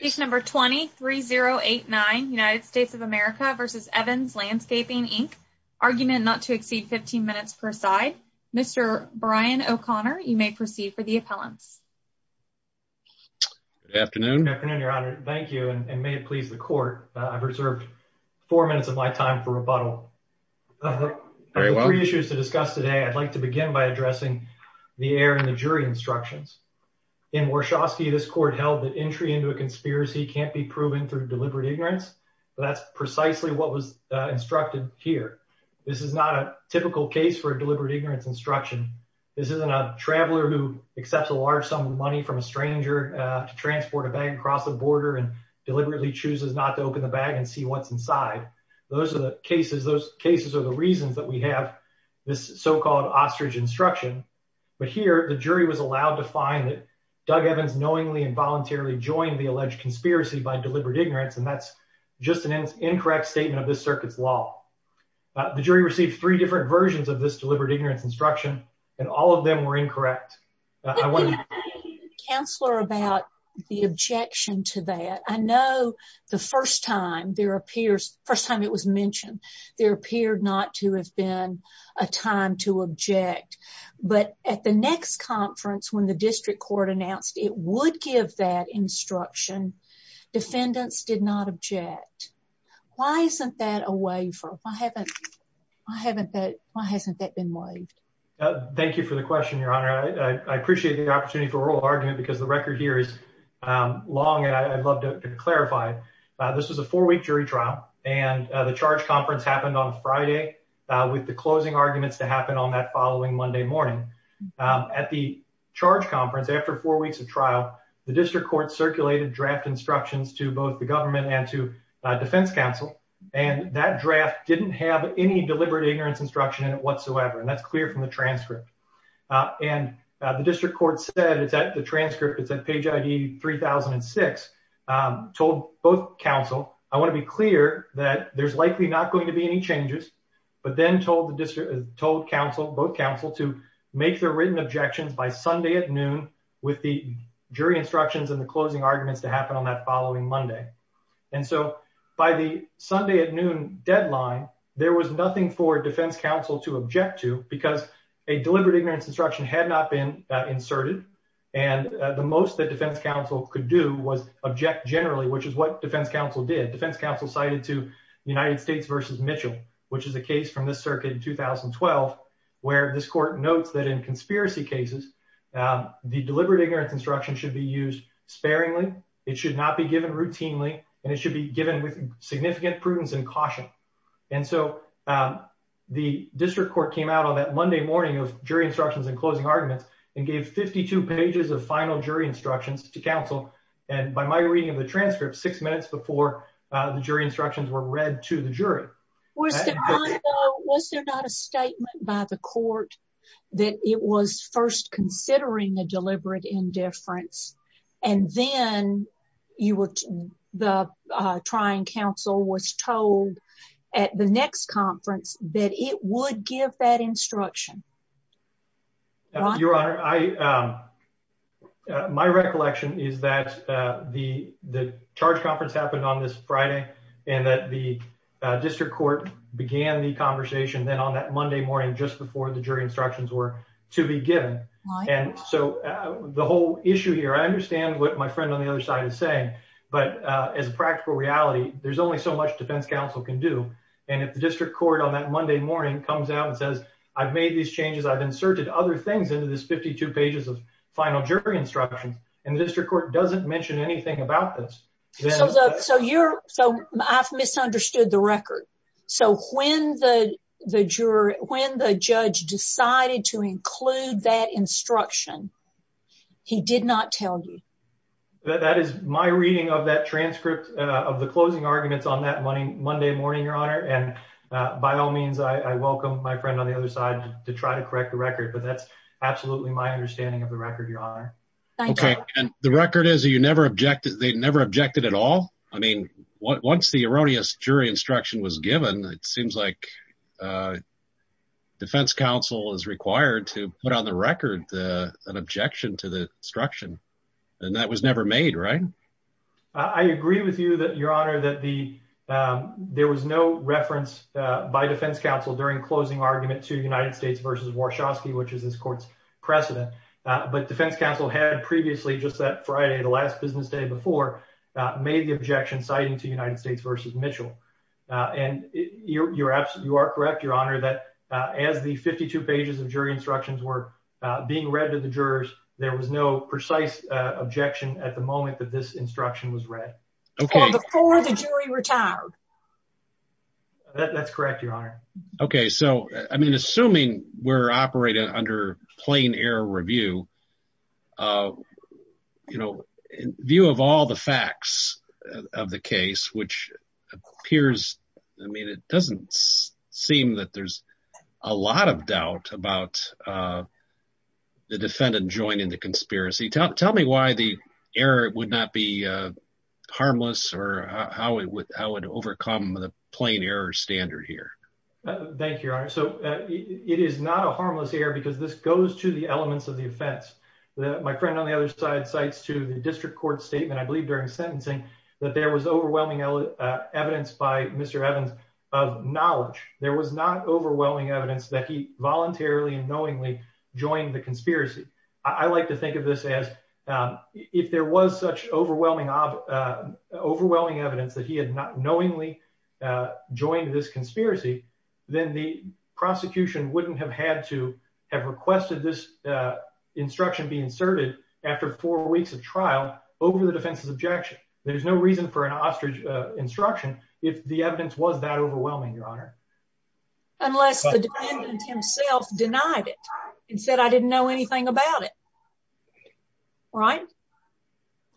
20-3089 United States of America v. Evans Landscaping Inc. Argument not to exceed 15 minutes per side. Mr. Brian O'Connor, you may proceed for the appellants. Good afternoon. Good afternoon, your honor. Thank you and may it please the court. I've reserved four minutes of my time for rebuttal. I have three issues to discuss today. I'd like to begin by addressing the error in the jury instructions. In Warshawski, this court held that entry into conspiracy can't be proven through deliberate ignorance. That's precisely what was instructed here. This is not a typical case for a deliberate ignorance instruction. This isn't a traveler who accepts a large sum of money from a stranger to transport a bag across the border and deliberately chooses not to open the bag and see what's inside. Those are the cases. Those cases are the reasons that we have this so-called ostrich instruction. But here, the jury was alleged conspiracy by deliberate ignorance and that's just an incorrect statement of this circuit's law. The jury received three different versions of this deliberate ignorance instruction and all of them were incorrect. Counselor, about the objection to that, I know the first time there appears, first time it was mentioned, there appeared not to have been a time to object. But at the next conference, when the district court announced it would give that instruction, defendants did not object. Why isn't that a waiver? Why hasn't that been waived? Thank you for the question, Your Honor. I appreciate the opportunity for oral argument because the record here is long and I'd love to clarify. This was a four-week jury trial and the charge conference happened on Friday with the closing arguments to happen on that following Monday morning. At the charge conference, after four weeks of trial, the district court circulated draft instructions to both the government and to defense counsel and that draft didn't have any deliberate ignorance instruction in it whatsoever and that's clear from the transcript. And the district court said, it's at the transcript, it's at page ID 3006, told both counsel, I want to be clear that there's likely not going to be any changes, but then told counsel, both counsel to make their written objections by Sunday at noon with the jury instructions and the closing arguments to happen on that following Monday. And so by the Sunday at noon deadline, there was nothing for defense counsel to object to because a deliberate ignorance instruction had not been inserted and the most that defense counsel could do was object generally, which is what defense counsel did. Defense counsel cited to United States v. Mitchell, which is a case from the circuit in 2012, where this court notes that in conspiracy cases, the deliberate ignorance instruction should be used sparingly, it should not be given routinely, and it should be given with significant prudence and caution. And so the district court came out on that Monday morning of jury instructions and closing arguments and gave 52 pages of final jury instructions to counsel and by my reading of the transcript, six minutes before the jury instructions were read to the jury. Was there not a statement by the court that it was first considering a deliberate indifference and then you were, the trying counsel was told at the next conference that it would give that instruction? Your Honor, I, my recollection is that the charge conference happened on this Friday, and that the district court began the conversation then on that Monday morning, just before the jury instructions were to be given. And so the whole issue here, I understand what my friend on the other side is saying, but as a practical reality, there's only so much defense counsel can do. And if the district court on that Monday morning comes out and says, I've made these changes, I've inserted other things into this 52 pages of final jury instructions, and the district court doesn't mention anything about this. So you're, so I've misunderstood the record. So when the, the juror, when the judge decided to include that instruction, he did not tell you? That is my reading of that transcript of the closing arguments on that Monday morning, Your Honor. And by all means, I welcome my friend on the other side to try to correct the record, but that's absolutely my understanding of the record, Your Honor. Okay. And the record is that you never objected, they never objected at all? I mean, once the erroneous jury instruction was given, it seems like defense counsel is required to put on the record an objection to the instruction. And that was never made, right? I agree with you that, Your Honor, that the, there was no reference by defense counsel during closing argument to United States versus Warshawski, which is this court's precedent. But defense counsel had previously just that Friday, the last business day before, made the objection citing to United States versus Mitchell. And you're absolutely, you are correct, Your Honor, that as the 52 pages of jury instructions were being read to the jurors, there was no precise objection at the moment that this instruction was read. Okay. Before the jury retired. That's correct, Your Honor. Okay. So, I mean, assuming we're operating under plain error review, you know, view of all the facts of the case, which appears, I mean, it doesn't seem that there's a lot of doubt about the defendant joining the conspiracy. Tell me why the error would not be harmless or how it would overcome the plain error standard here. Thank you, Your Honor. So, it is not a harmless error because this goes to the elements of the offense. My friend on the other side cites to the district court statement, I believe during sentencing, that there was overwhelming evidence by Mr. Evans of knowledge. There was not overwhelming evidence that he voluntarily and knowingly joined the conspiracy. I like to think this as if there was such overwhelming evidence that he had not knowingly joined this conspiracy, then the prosecution wouldn't have had to have requested this instruction be inserted after four weeks of trial over the defense's objection. There's no reason for an ostrich instruction if the evidence was that overwhelming, Your Honor. Unless the defendant himself denied it and said, I didn't know anything about it. Ryan?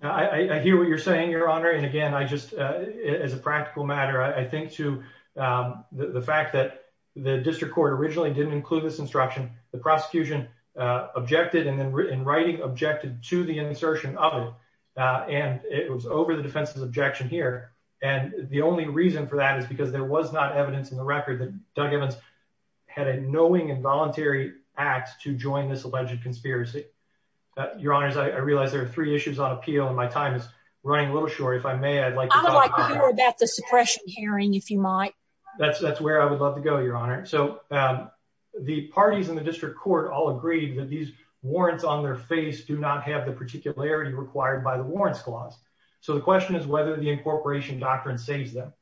I hear what you're saying, Your Honor. And again, I just, as a practical matter, I think to the fact that the district court originally didn't include this instruction. The prosecution objected and then in writing objected to the insertion of it. And it was over the defense's objection here. And the only reason for that is because there was not evidence in the record that had a knowing involuntary act to join this alleged conspiracy. Your Honor, I realize there are three issues on appeal and my time is running a little short. If I may, I'd like to hear about the suppression hearing. If you might, that's where I would love to go, Your Honor. So, um, the parties in the district court all agreed that these warrants on their face do not have the particularity required by the warrants clause. So the question is whether the incorporation doctrine saves them.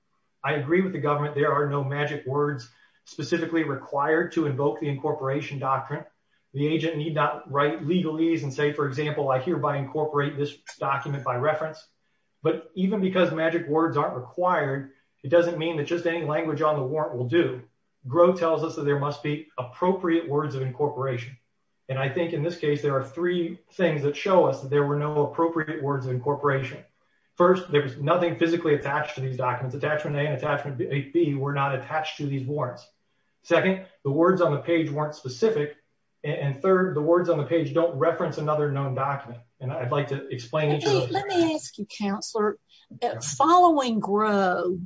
I agree with the government. There are no magic words specifically required to invoke the incorporation doctrine. The agent need not write legalese and say, for example, I hereby incorporate this document by reference. But even because magic words aren't required, it doesn't mean that just any language on the warrant will do. Grove tells us that there must be appropriate words of incorporation. And I think in this case, there are three things that show us that there were no appropriate words of incorporation. First, there was nothing physically attached to these documents. Attachment A and attachment B were not attached to these warrants. Second, the words on the page weren't specific. And third, the words on the page don't reference another known document. And I'd like to explain it to you. Let me ask you, Counselor, following Grove,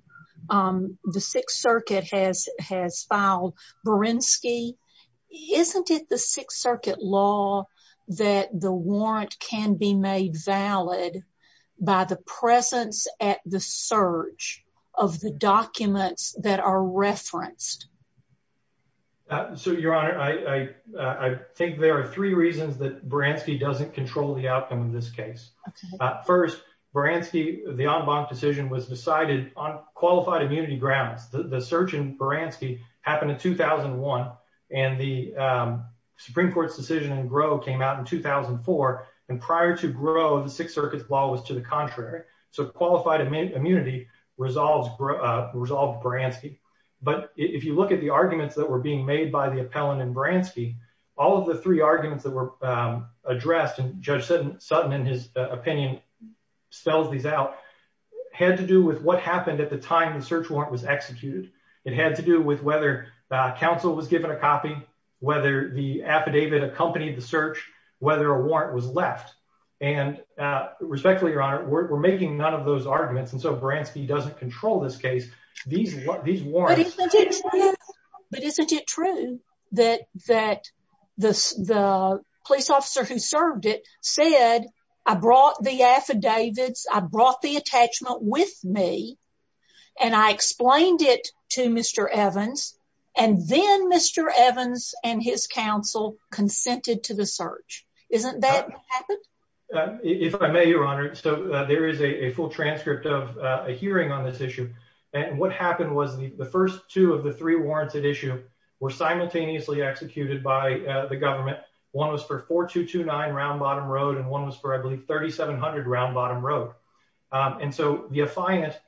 um, the Sixth Circuit has, has filed Berinsky. Isn't it the Sixth Circuit law that the warrant can be made valid by the presence at the search of the documents that are referenced? So, Your Honor, I, I think there are three reasons that Berinsky doesn't control the outcome of this case. First, Berinsky, the en banc decision was decided on qualified immunity grounds. The search in Berinsky happened in 2001 and the Supreme Court's decision in Grove came out in 2004. And prior to Grove, the Sixth Circuit's law was to the contrary. So qualified immunity resolves, uh, resolved Berinsky. But if you look at the arguments that were being made by the appellant in Berinsky, all of the three arguments that were, um, addressed and Judge Sutton, in his opinion, spells these out, had to do with what happened at the time the search warrant was executed. It had to do with whether, uh, counsel was given a copy, whether the affidavit accompanied the and, uh, respectfully, Your Honor, we're, we're making none of those arguments. And so Berinsky doesn't control this case. These, these warrants. But isn't it true that, that the, the police officer who served it said, I brought the affidavits, I brought the attachment with me and I explained it to Mr. Evans and then Mr. Evans and his counsel consented to the search. Isn't that what happened? If I may, Your Honor. So there is a full transcript of a hearing on this issue. And what happened was the, the first two of the three warrants at issue were simultaneously executed by the government. One was for 4229 Round Bottom Road, and one was for, I believe, 3700 Round Bottom Road. And so the affidavit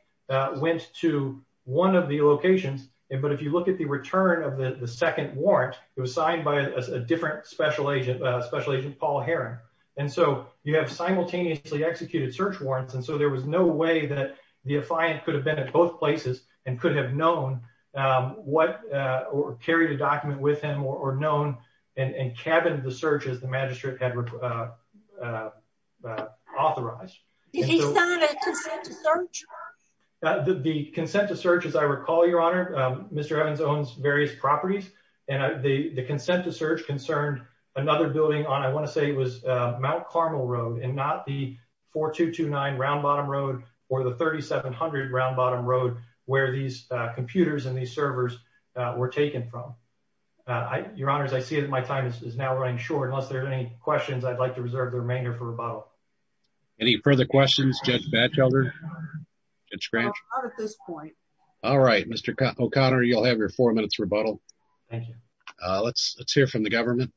went to one of the locations. And, but if you look at the return of the second warrant, it was signed by a different special agent, a special agent, Paul Heron. And so you have simultaneously executed search warrants. And so there was no way that the affiant could have been at both places and could have known, um, what, uh, or carried a document with him or, or known and, and cabined the search as the magistrate had, uh, uh, uh, authorized. He signed a consent to search? The consent to search, as I recall, Your Honor, um, Mr. Evans owns various properties and the consent to search concerned another building on, I want to say it was, uh, Mount Carmel Road and not the 4229 Round Bottom Road or the 3700 Round Bottom Road where these computers and these servers were taken from. Uh, I, Your Honor, as I see it, my time is now running short, unless there are any questions I'd like to reserve the remainder for rebuttal. Any further questions, Judge Batchelder? All right, Mr. O'Connor, you'll have your four minutes rebuttal. Thank you. Uh, let's, let's hear from the government.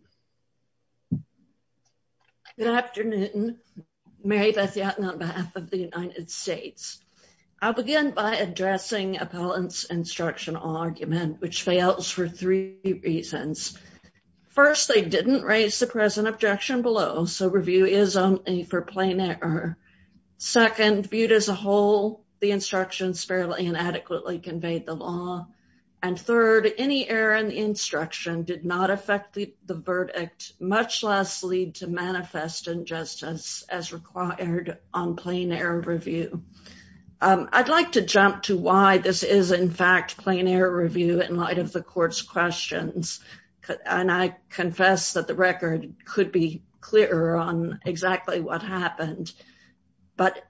Good afternoon. Mary Beth Yatton on behalf of the United States. I'll begin by addressing appellant's instruction argument, which fails for three reasons. First, they didn't raise the present objection below. So review is only for plain error. Second, viewed as a whole, the instruction did not affect the verdict, much less lead to manifest injustice as required on plain error review. Um, I'd like to jump to why this is in fact plain error review in light of the court's questions. And I confess that the record could be clearer on exactly what happened, but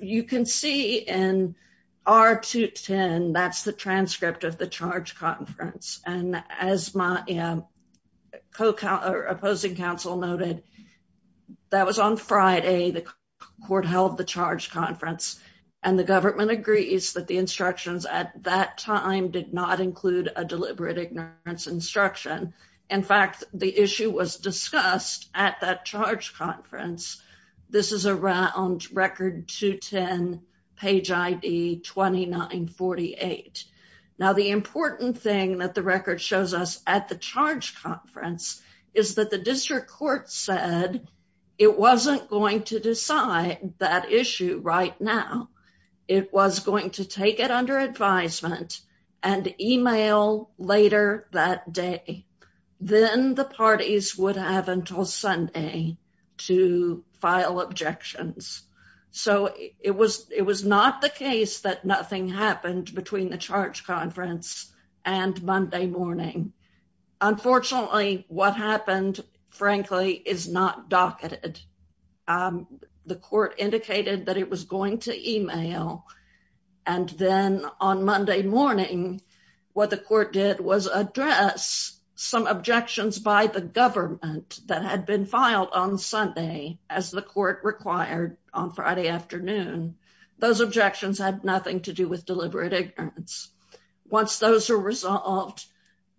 you can see in R210, that's the transcript of the charge conference. And as my, uh, co-counsel, opposing counsel noted, that was on Friday, the court held the charge conference and the government agrees that the instructions at that time did not include a deliberate ignorance instruction. In fact, the issue was discussed at that charge conference. This is around record 210 page ID 2948. Now the important thing that the record shows us at the charge conference is that the district court said it wasn't going to decide that issue right now. It was going to do it that day. Then the parties would have until Sunday to file objections. So it was, it was not the case that nothing happened between the charge conference and Monday morning. Unfortunately, what happened, frankly, is not docketed. Um, the court indicated that it was going to email and then on Monday morning, what the court did was address some objections by the government that had been filed on Sunday, as the court required on Friday afternoon, those objections had nothing to do with deliberate ignorance. Once those are resolved,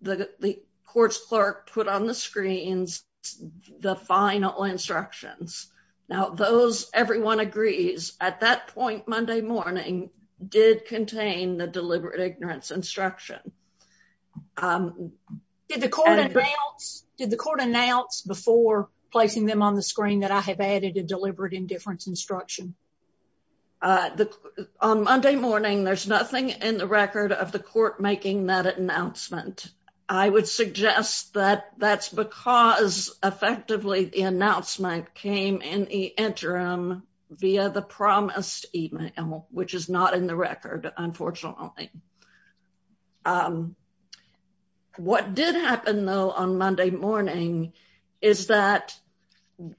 the court's clerk put on the did contain the deliberate ignorance instruction. The court announced before placing them on the screen that I have added a deliberate indifference instruction. On Monday morning, there's nothing in the record of the court making that announcement. I would suggest that that's because effectively the announcement came in the interim via the promised email, which is not in the record, unfortunately. What did happen though, on Monday morning, is that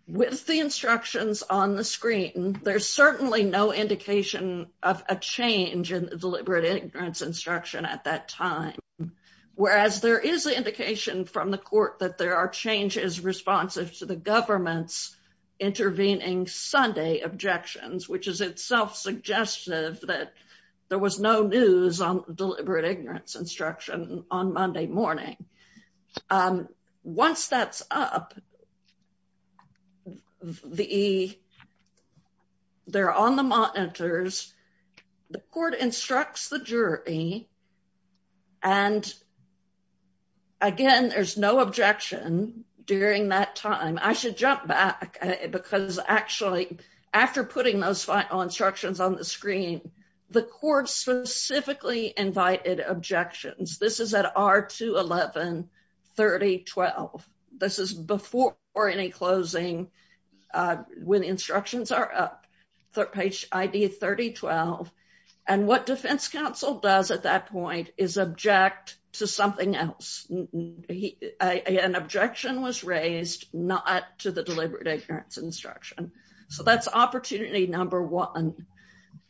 with the instructions on the screen, there's certainly no indication of a change in deliberate ignorance instruction at that time. Whereas there is indication from the court that there are changes responsive to the government's intervening Sunday objections, which is itself suggestive that there was no news on deliberate ignorance instruction on Monday morning. Once that's up, they're on the monitors, the court instructs the jury, and again, there's no objection during that time. I should jump back, because actually, after putting those final instructions on the screen, the court specifically invited objections. This is at R211, 3012. This is before any closing, when the instructions are up, page ID 3012. And what defense counsel does at that point is object to something else. An objection was raised not to the deliberate ignorance instruction. So that's opportunity number one.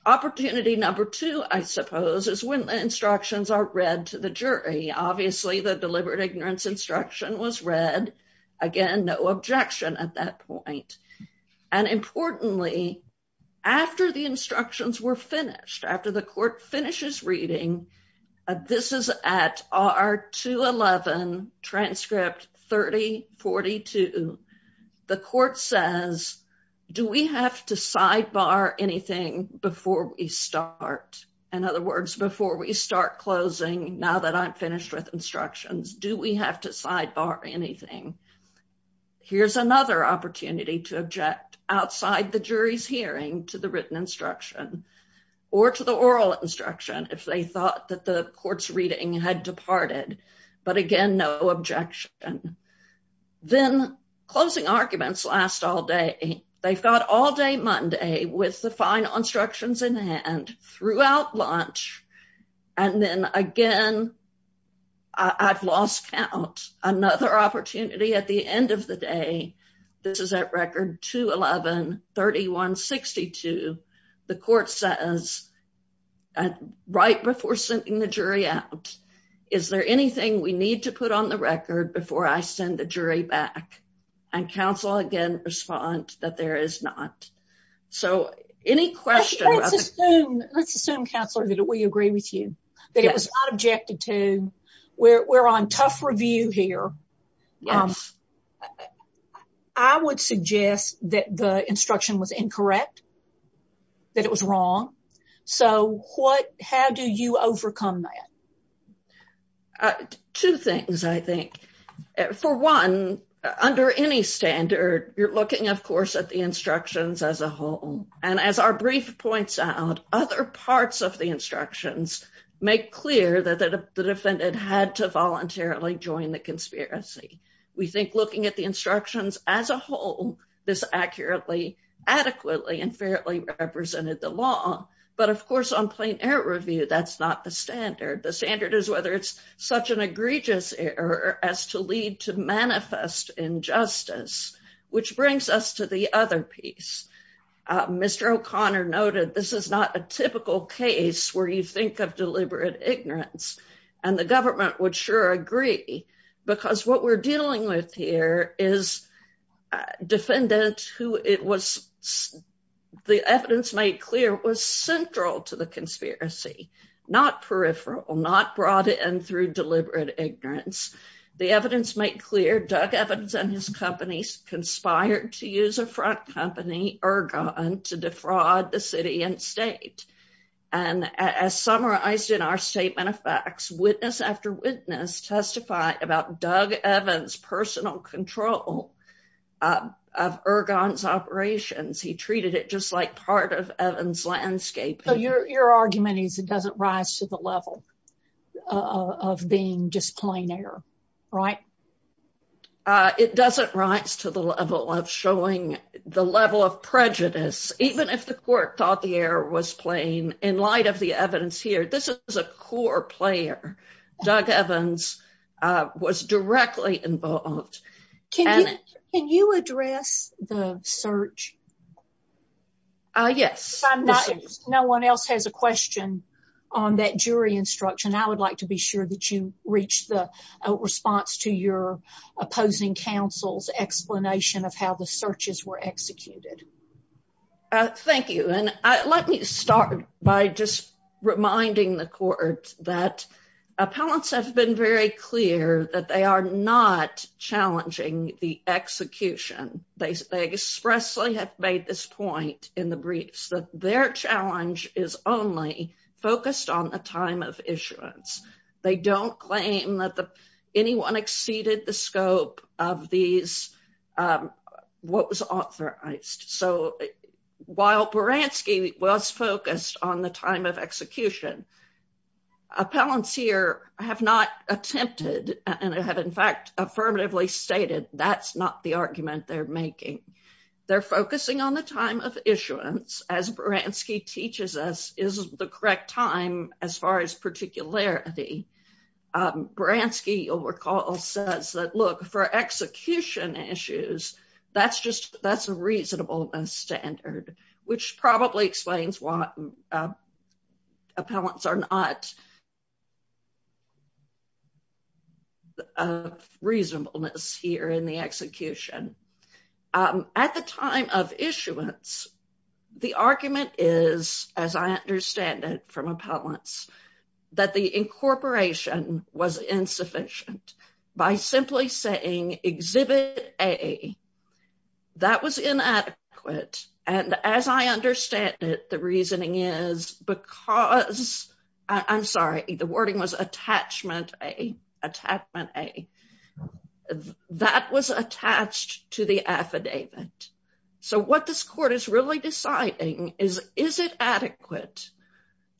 Opportunity number two, I suppose, is when the instructions are read to the jury. Obviously, the deliberate ignorance instruction was read. Again, no objection at that point. And importantly, after the instructions were finished, after the court finishes reading, this is at R211, transcript 3042. The court says, do we have to sidebar anything before we start? In other words, before we start closing, now that I'm finished with instructions, do we have to object outside the jury's hearing to the written instruction or to the oral instruction if they thought that the court's reading had departed? But again, no objection. Then closing arguments last all day. They've got all day Monday with the final instructions in hand throughout lunch. And then again, I've lost count. Another opportunity at the end of the day. This is at record 211, 3162. The court says, right before sending the jury out, is there anything we need to put on the record before I send the jury back? And counsel, again, respond that there is not. So any question. Let's assume, counsel, that we agree with you. That it was not objected to. We're on tough review here. I would suggest that the instruction was incorrect, that it was wrong. So how do you overcome that? Two things, I think. For one, under any standard, you're looking, of course, at the instructions as a whole. And as our brief points out, other parts of the instructions make clear that the defendant had to voluntarily join the conspiracy. We think looking at the instructions as a whole, this accurately, adequately, and fairly represented the law. But of course, on plain error review, that's not the standard. The standard is whether it's such an egregious error as to lead to manifest injustice, which brings us to the other piece. Mr. O'Connor noted, this is not a typical case where you think of deliberate ignorance. And the government would sure agree, because what we're dealing with here is a defendant who it was, the evidence made clear, was central to the conspiracy, not peripheral, not brought in through deliberate ignorance. The evidence made clear, Doug Evans and his company conspired to use a front company, Ergon, to defraud the city and state. And as summarized in our statement of facts, witness after witness testified about Doug Evans' personal control of Ergon's operations. He treated it just like part of Evans' landscaping. So your argument is it doesn't rise to the level of being just plain error, right? It doesn't rise to the level of showing the level of prejudice, even if the court thought the error was plain. In light of the evidence here, this is a core player. Doug Evans was directly involved. Can you address the search? Yes. If no one else has a question on that jury instruction, I would like to be sure that you reach the response to your opposing counsel's explanation of how the searches were executed. Thank you. And let me start by just reminding the court that appellants have been very clear that they are not challenging the execution. They expressly have made this point in the briefs that their challenge is only focused on the time of issuance. They don't claim that anyone exceeded the scope of what was authorized. So while Beranski was focused on the time of execution, appellants here have not attempted and have, in fact, affirmatively stated that's not the argument they're making. They're focusing on the time of issuance, as Beranski teaches us is the correct time as far as particularity. Beranski, you'll recall, says that, look, for execution issues, that's a reasonable standard, which probably explains why appellants are not of reasonableness here in the execution. At the time of issuance, the argument is, as I understand it from appellants, that the incorporation was insufficient by simply saying exhibit A. That was inadequate. And as I understand it, the reasoning is because I'm sorry, the wording was attachment A. That was attached to the affidavit. So what this court is really deciding is, is it adequate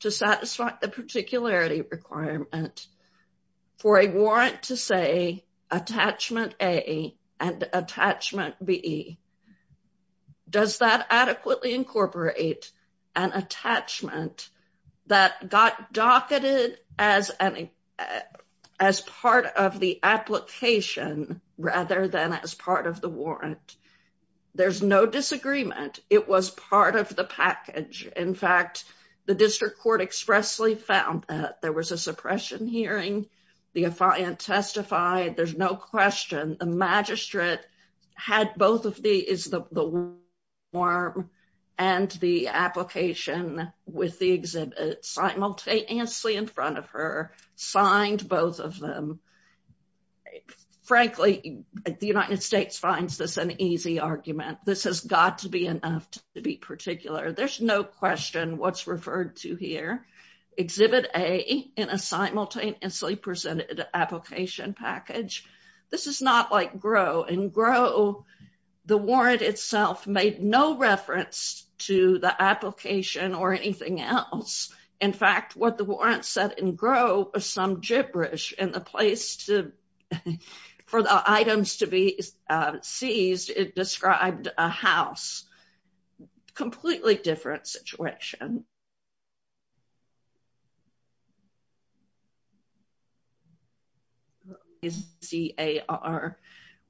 to satisfy the particularity requirement for a warrant to say attachment A and attachment B? Does that adequately incorporate an attachment that got docketed as part of the application rather than as part of the warrant? There's no disagreement. It was part of the package. In fact, the district court expressly found that. There was a suppression hearing. The affiant testified. There's no question. The magistrate had both of these, the warrant and the application with the exhibit simultaneously in front of her, signed both of them. Frankly, the United States finds this an easy argument. This has got to be enough to be particular. There's no question what's referred to here. Exhibit A in a simultaneously presented application package. This is not like GRO. In GRO, the warrant itself made no reference to the application or anything else. In fact, what the warrant said in GRO was some gibberish. In the place for the items to be seized, it described a house. Completely different situation.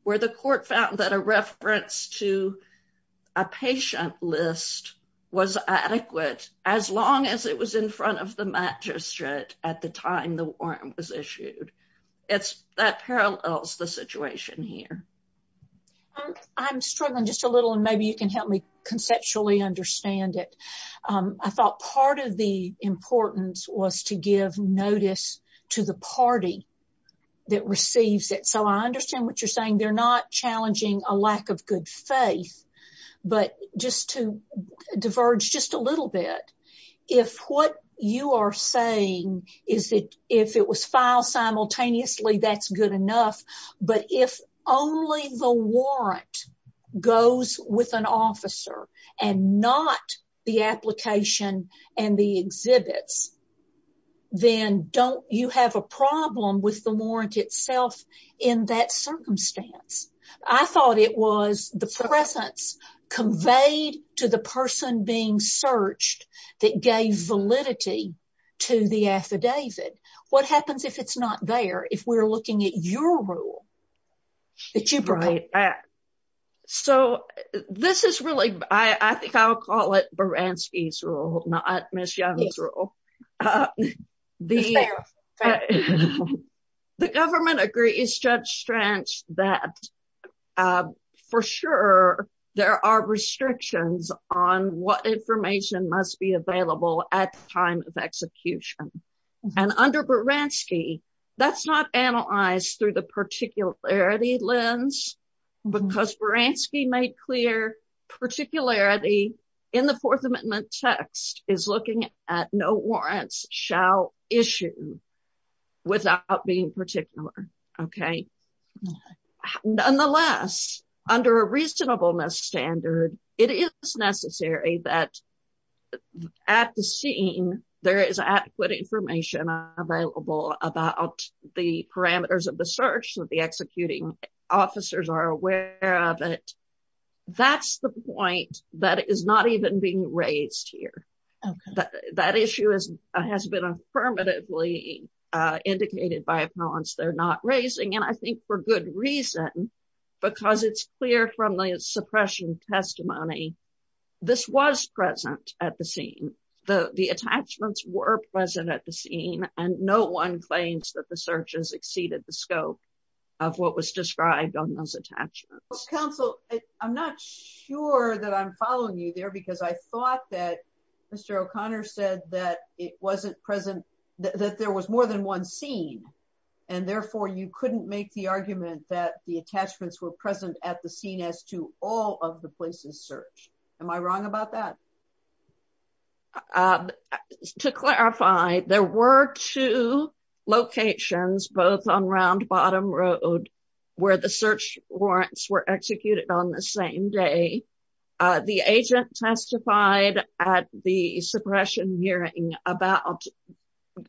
Where the court found that a reference to a patient list was adequate as long as it was in front of the magistrate at the time the warrant was issued. That parallels the situation here. I'm struggling just a little. Maybe you can help me conceptually understand it. I thought part of the importance was to give notice to the party that receives it. I understand what you're saying. They're not challenging a lack of good faith. But just to diverge just a little bit, if what goes with an officer and not the application and the exhibits, then don't you have a problem with the warrant itself in that circumstance? I thought it was the presence conveyed to the person being searched that gave validity to the affidavit. What happens if it's not there? If we're looking at your rule? So this is really, I think I'll call it Baranski's rule, not Ms. Young's rule. The government agrees, Judge Stranch, that for sure there are restrictions on what information must be available at the time of execution. And under Baranski, that's not analyzed through the particularity lens, because Baranski made clear particularity in the Fourth Amendment text is looking at no warrants shall issue without being particular. Nonetheless, under a reasonableness standard, it is necessary that at the scene, there is adequate information available about the parameters of the search that the executing officers are aware of it. That's the point that is not even being raised here. That issue has been affirmatively indicated by appellants they're not raising, and I think for good reason, because it's clear from the suppression testimony, this was present at the scene. The attachments were present at the scene, and no one claims that the searches exceeded the scope of what was described on those attachments. Counsel, I'm not sure that I'm following you there, because I thought that Mr. O'Connor said that it wasn't present, that there was more than one scene, and therefore you couldn't make the argument that the attachments were present at the scene as to all of the places searched. Am I wrong about that? To clarify, there were two locations, both on Round Bottom Road, where the search warrants were about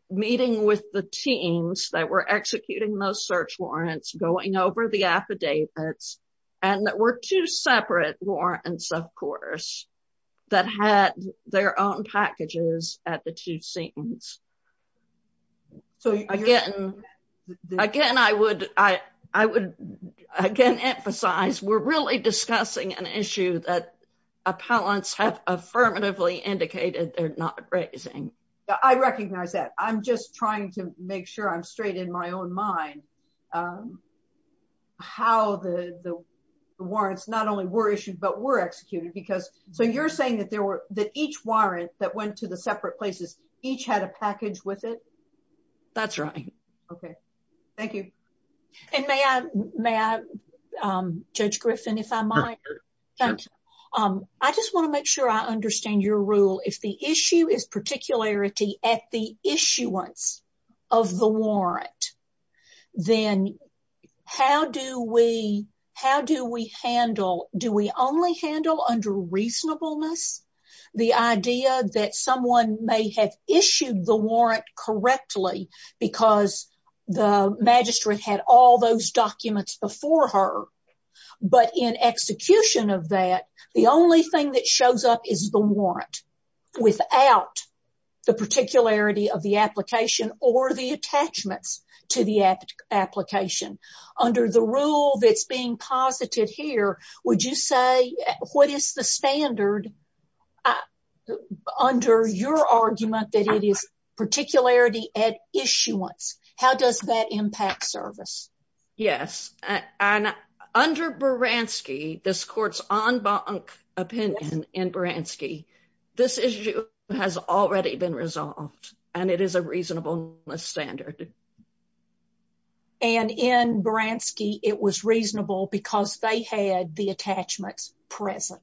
meeting with the teams that were executing those search warrants, going over the affidavits, and there were two separate warrants, of course, that had their own packages at the two scenes. So again, I would again emphasize, we're really discussing an issue that I recognize that I'm just trying to make sure I'm straight in my own mind, how the warrants not only were issued, but were executed, because so you're saying that there were that each warrant that went to the separate places each had a package with it? That's right. Okay, thank you. And may I, Judge Griffin, if I might, I just want to make sure I at the issuance of the warrant, then how do we handle, do we only handle under reasonableness the idea that someone may have issued the warrant correctly because the magistrate had all those documents before her, but in execution of that, the only thing that shows up is the warrant without the particularity of the application or the attachments to the application. Under the rule that's being posited here, would you say what is the standard under your argument that it is particularity at issuance? How does that impact service? Yes, and under Baranski, this court's en banc opinion in Baranski, this issue has already been resolved, and it is a reasonableness standard. And in Baranski, it was reasonable because they had the attachments present.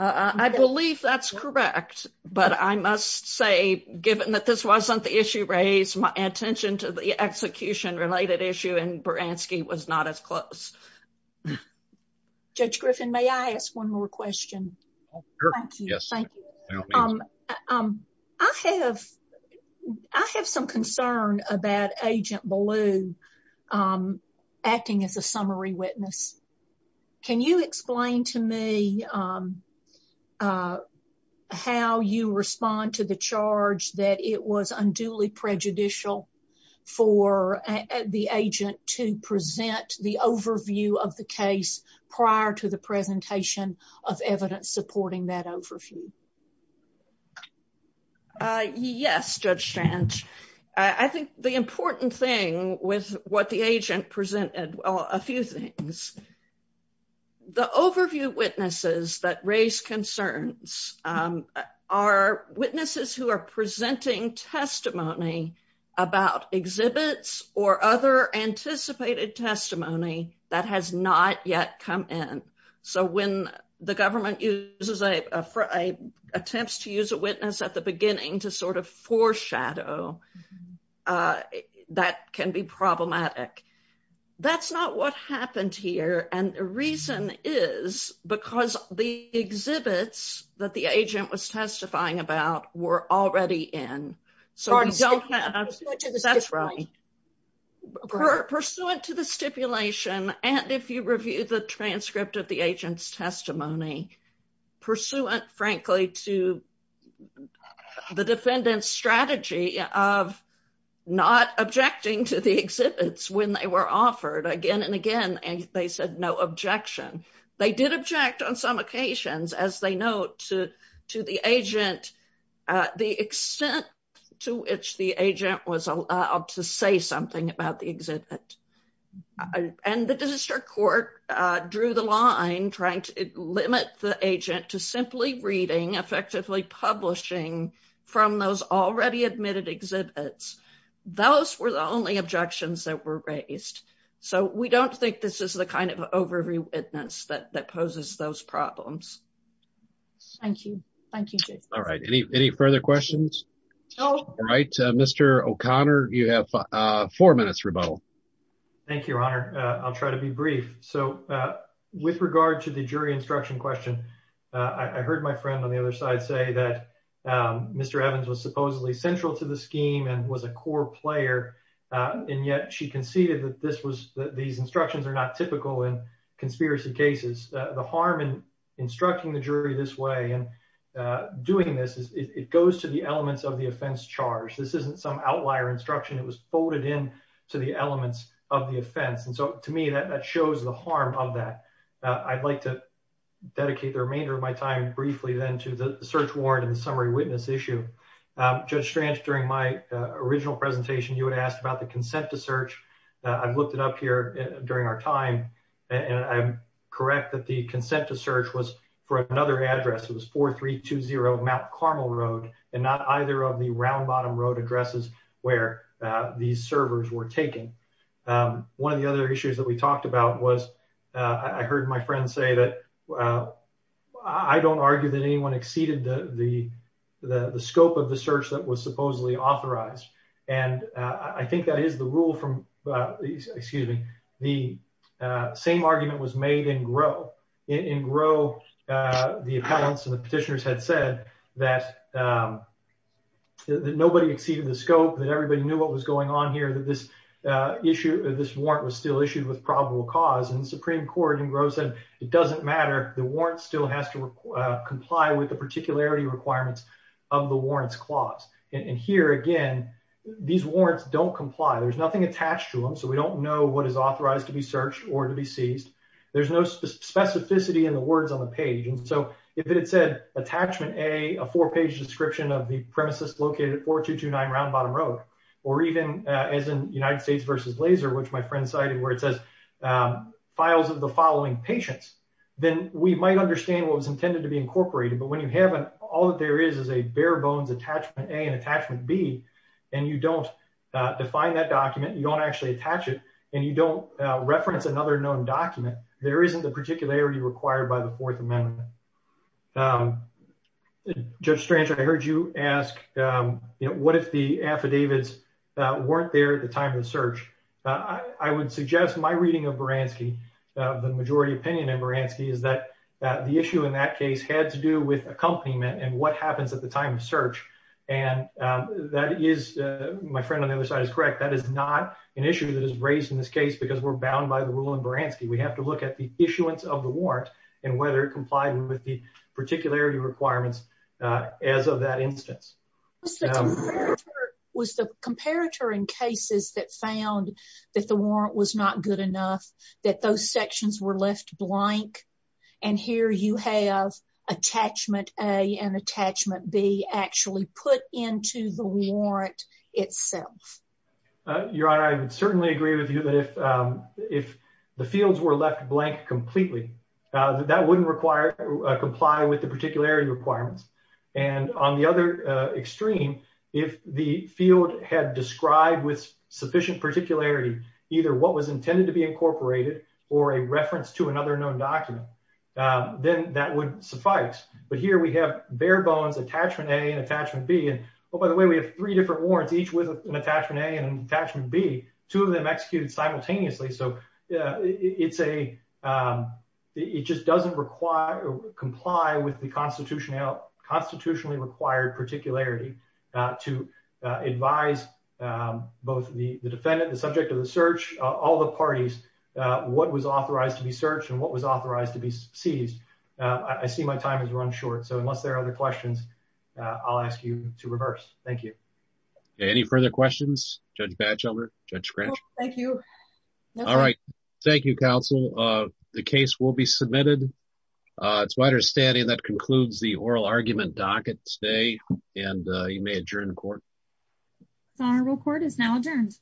I believe that's correct, but I must say, given that this wasn't the issue raised, attention to the execution-related issue in Baranski was not as close. Judge Griffin, may I ask one more question? Sure, yes. Thank you. I have some concern about Agent Ballew acting as a summary witness. Can you explain to me how you respond to the charge that it was unduly prejudicial for the agent to present the overview of the case prior to the presentation of evidence supporting that overview? Yes, Judge Strange. I think the important thing with what the agent presented, well, a few things. The overview witnesses that raise concerns are witnesses who are presenting testimony about exhibits or other anticipated testimony that has not yet come in. So when the government attempts to use a witness at the beginning to sort of foreshadow, that can be problematic. That's not what happened here. And the reason is because the exhibits that the agent was testifying about were already in. So we don't have... You're speaking to the stipulation. That's right. Pursuant to the stipulation, and if you review the transcript of the agent's offer, again and again, they said no objection. They did object on some occasions, as they note, to the agent, the extent to which the agent was allowed to say something about the exhibit. And the district court drew the line, trying to limit the agent to simply reading, effectively publishing from those already admitted exhibits. Those were the only objections that were raised. So we don't think this is the kind of overview witness that poses those problems. Thank you. Thank you, Jason. All right. Any further questions? All right. Mr. O'Connor, you have four minutes rebuttal. Thank you, Your Honor. I'll try to be brief. So with regard to the jury instruction question, I heard my friend on the other side say that Mr. Evans was supposedly central to the scheme and was a core player, and yet she conceded that these instructions are not typical in conspiracy cases. The harm in instructing the jury this way and doing this is it goes to the elements of the offense charge. This isn't some outlier instruction. It was folded in to the elements of the offense. And so to me, that shows the harm of that. I'd like to dedicate the remainder of my time briefly then to the search warrant and the summary witness issue. Judge Strange, during my original presentation, you had asked about the consent to search. I've looked it up here during our time, and I'm correct that the consent to search was for another address. It was 4320 Mount Carmel Road, and not either of the round bottom road addresses where these servers were taken. One of the other issues that we talked about was I heard my friend say that I don't argue that anyone exceeded the scope of the search that was supposedly authorized, and I think that is the rule from, excuse me, the same argument was made in Grow. In Grow, the appellants and the petitioners had said that nobody exceeded the scope, that everybody knew what was going on here, that this issue, this warrant was still cause, and the Supreme Court in Grow said it doesn't matter. The warrant still has to comply with the particularity requirements of the warrants clause. And here again, these warrants don't comply. There's nothing attached to them, so we don't know what is authorized to be searched or to be seized. There's no specificity in the words on the page. And so if it had said attachment A, a four-page description of the premises located at 4229 Round Bottom Road, or even as in United where it says files of the following patients, then we might understand what was intended to be incorporated. But when you haven't, all that there is is a bare bones attachment A and attachment B, and you don't define that document, you don't actually attach it, and you don't reference another known document, there isn't the particularity required by the Fourth Amendment. Judge Strange, I heard you ask, you know, what if the affidavits weren't there at the time of the search? I would suggest my reading of Baranski, the majority opinion in Baranski, is that the issue in that case had to do with accompaniment and what happens at the time of search. And that is, my friend on the other side is correct, that is not an issue that is raised in this case because we're bound by the rule in Baranski. We have to look at the issuance of the warrant and whether it complied with the particularity requirements as of that instance. Was the comparator in cases that found that the warrant was not good enough, that those sections were left blank, and here you have attachment A and attachment B actually put into the warrant itself? Your Honor, I would certainly agree with you that if the fields were left blank completely, that wouldn't require, comply with the particularity requirements. And on the other extreme, if the field had described with sufficient particularity either what was intended to be incorporated or a reference to another known document, then that would suffice. But here we have bare bones, attachment A and attachment B, and oh by the way, we have three different warrants, each with an attachment A and an attachment B, two of them executed simultaneously, so it's a, it just doesn't require, comply with the constitutionally required particularity to advise both the defendant, the subject of the search, all the parties, what was authorized to be searched and what was authorized to be seized. I see my time has run short, so unless there are other questions, I'll ask you to reverse. Thank you. Any further questions, Judge Batchelder, Judge Scratch? Thank you. All right, thank you, counsel. The case will be submitted. It's my understanding that concludes the oral argument docket today, and you may adjourn court. Honorable court is now adjourned.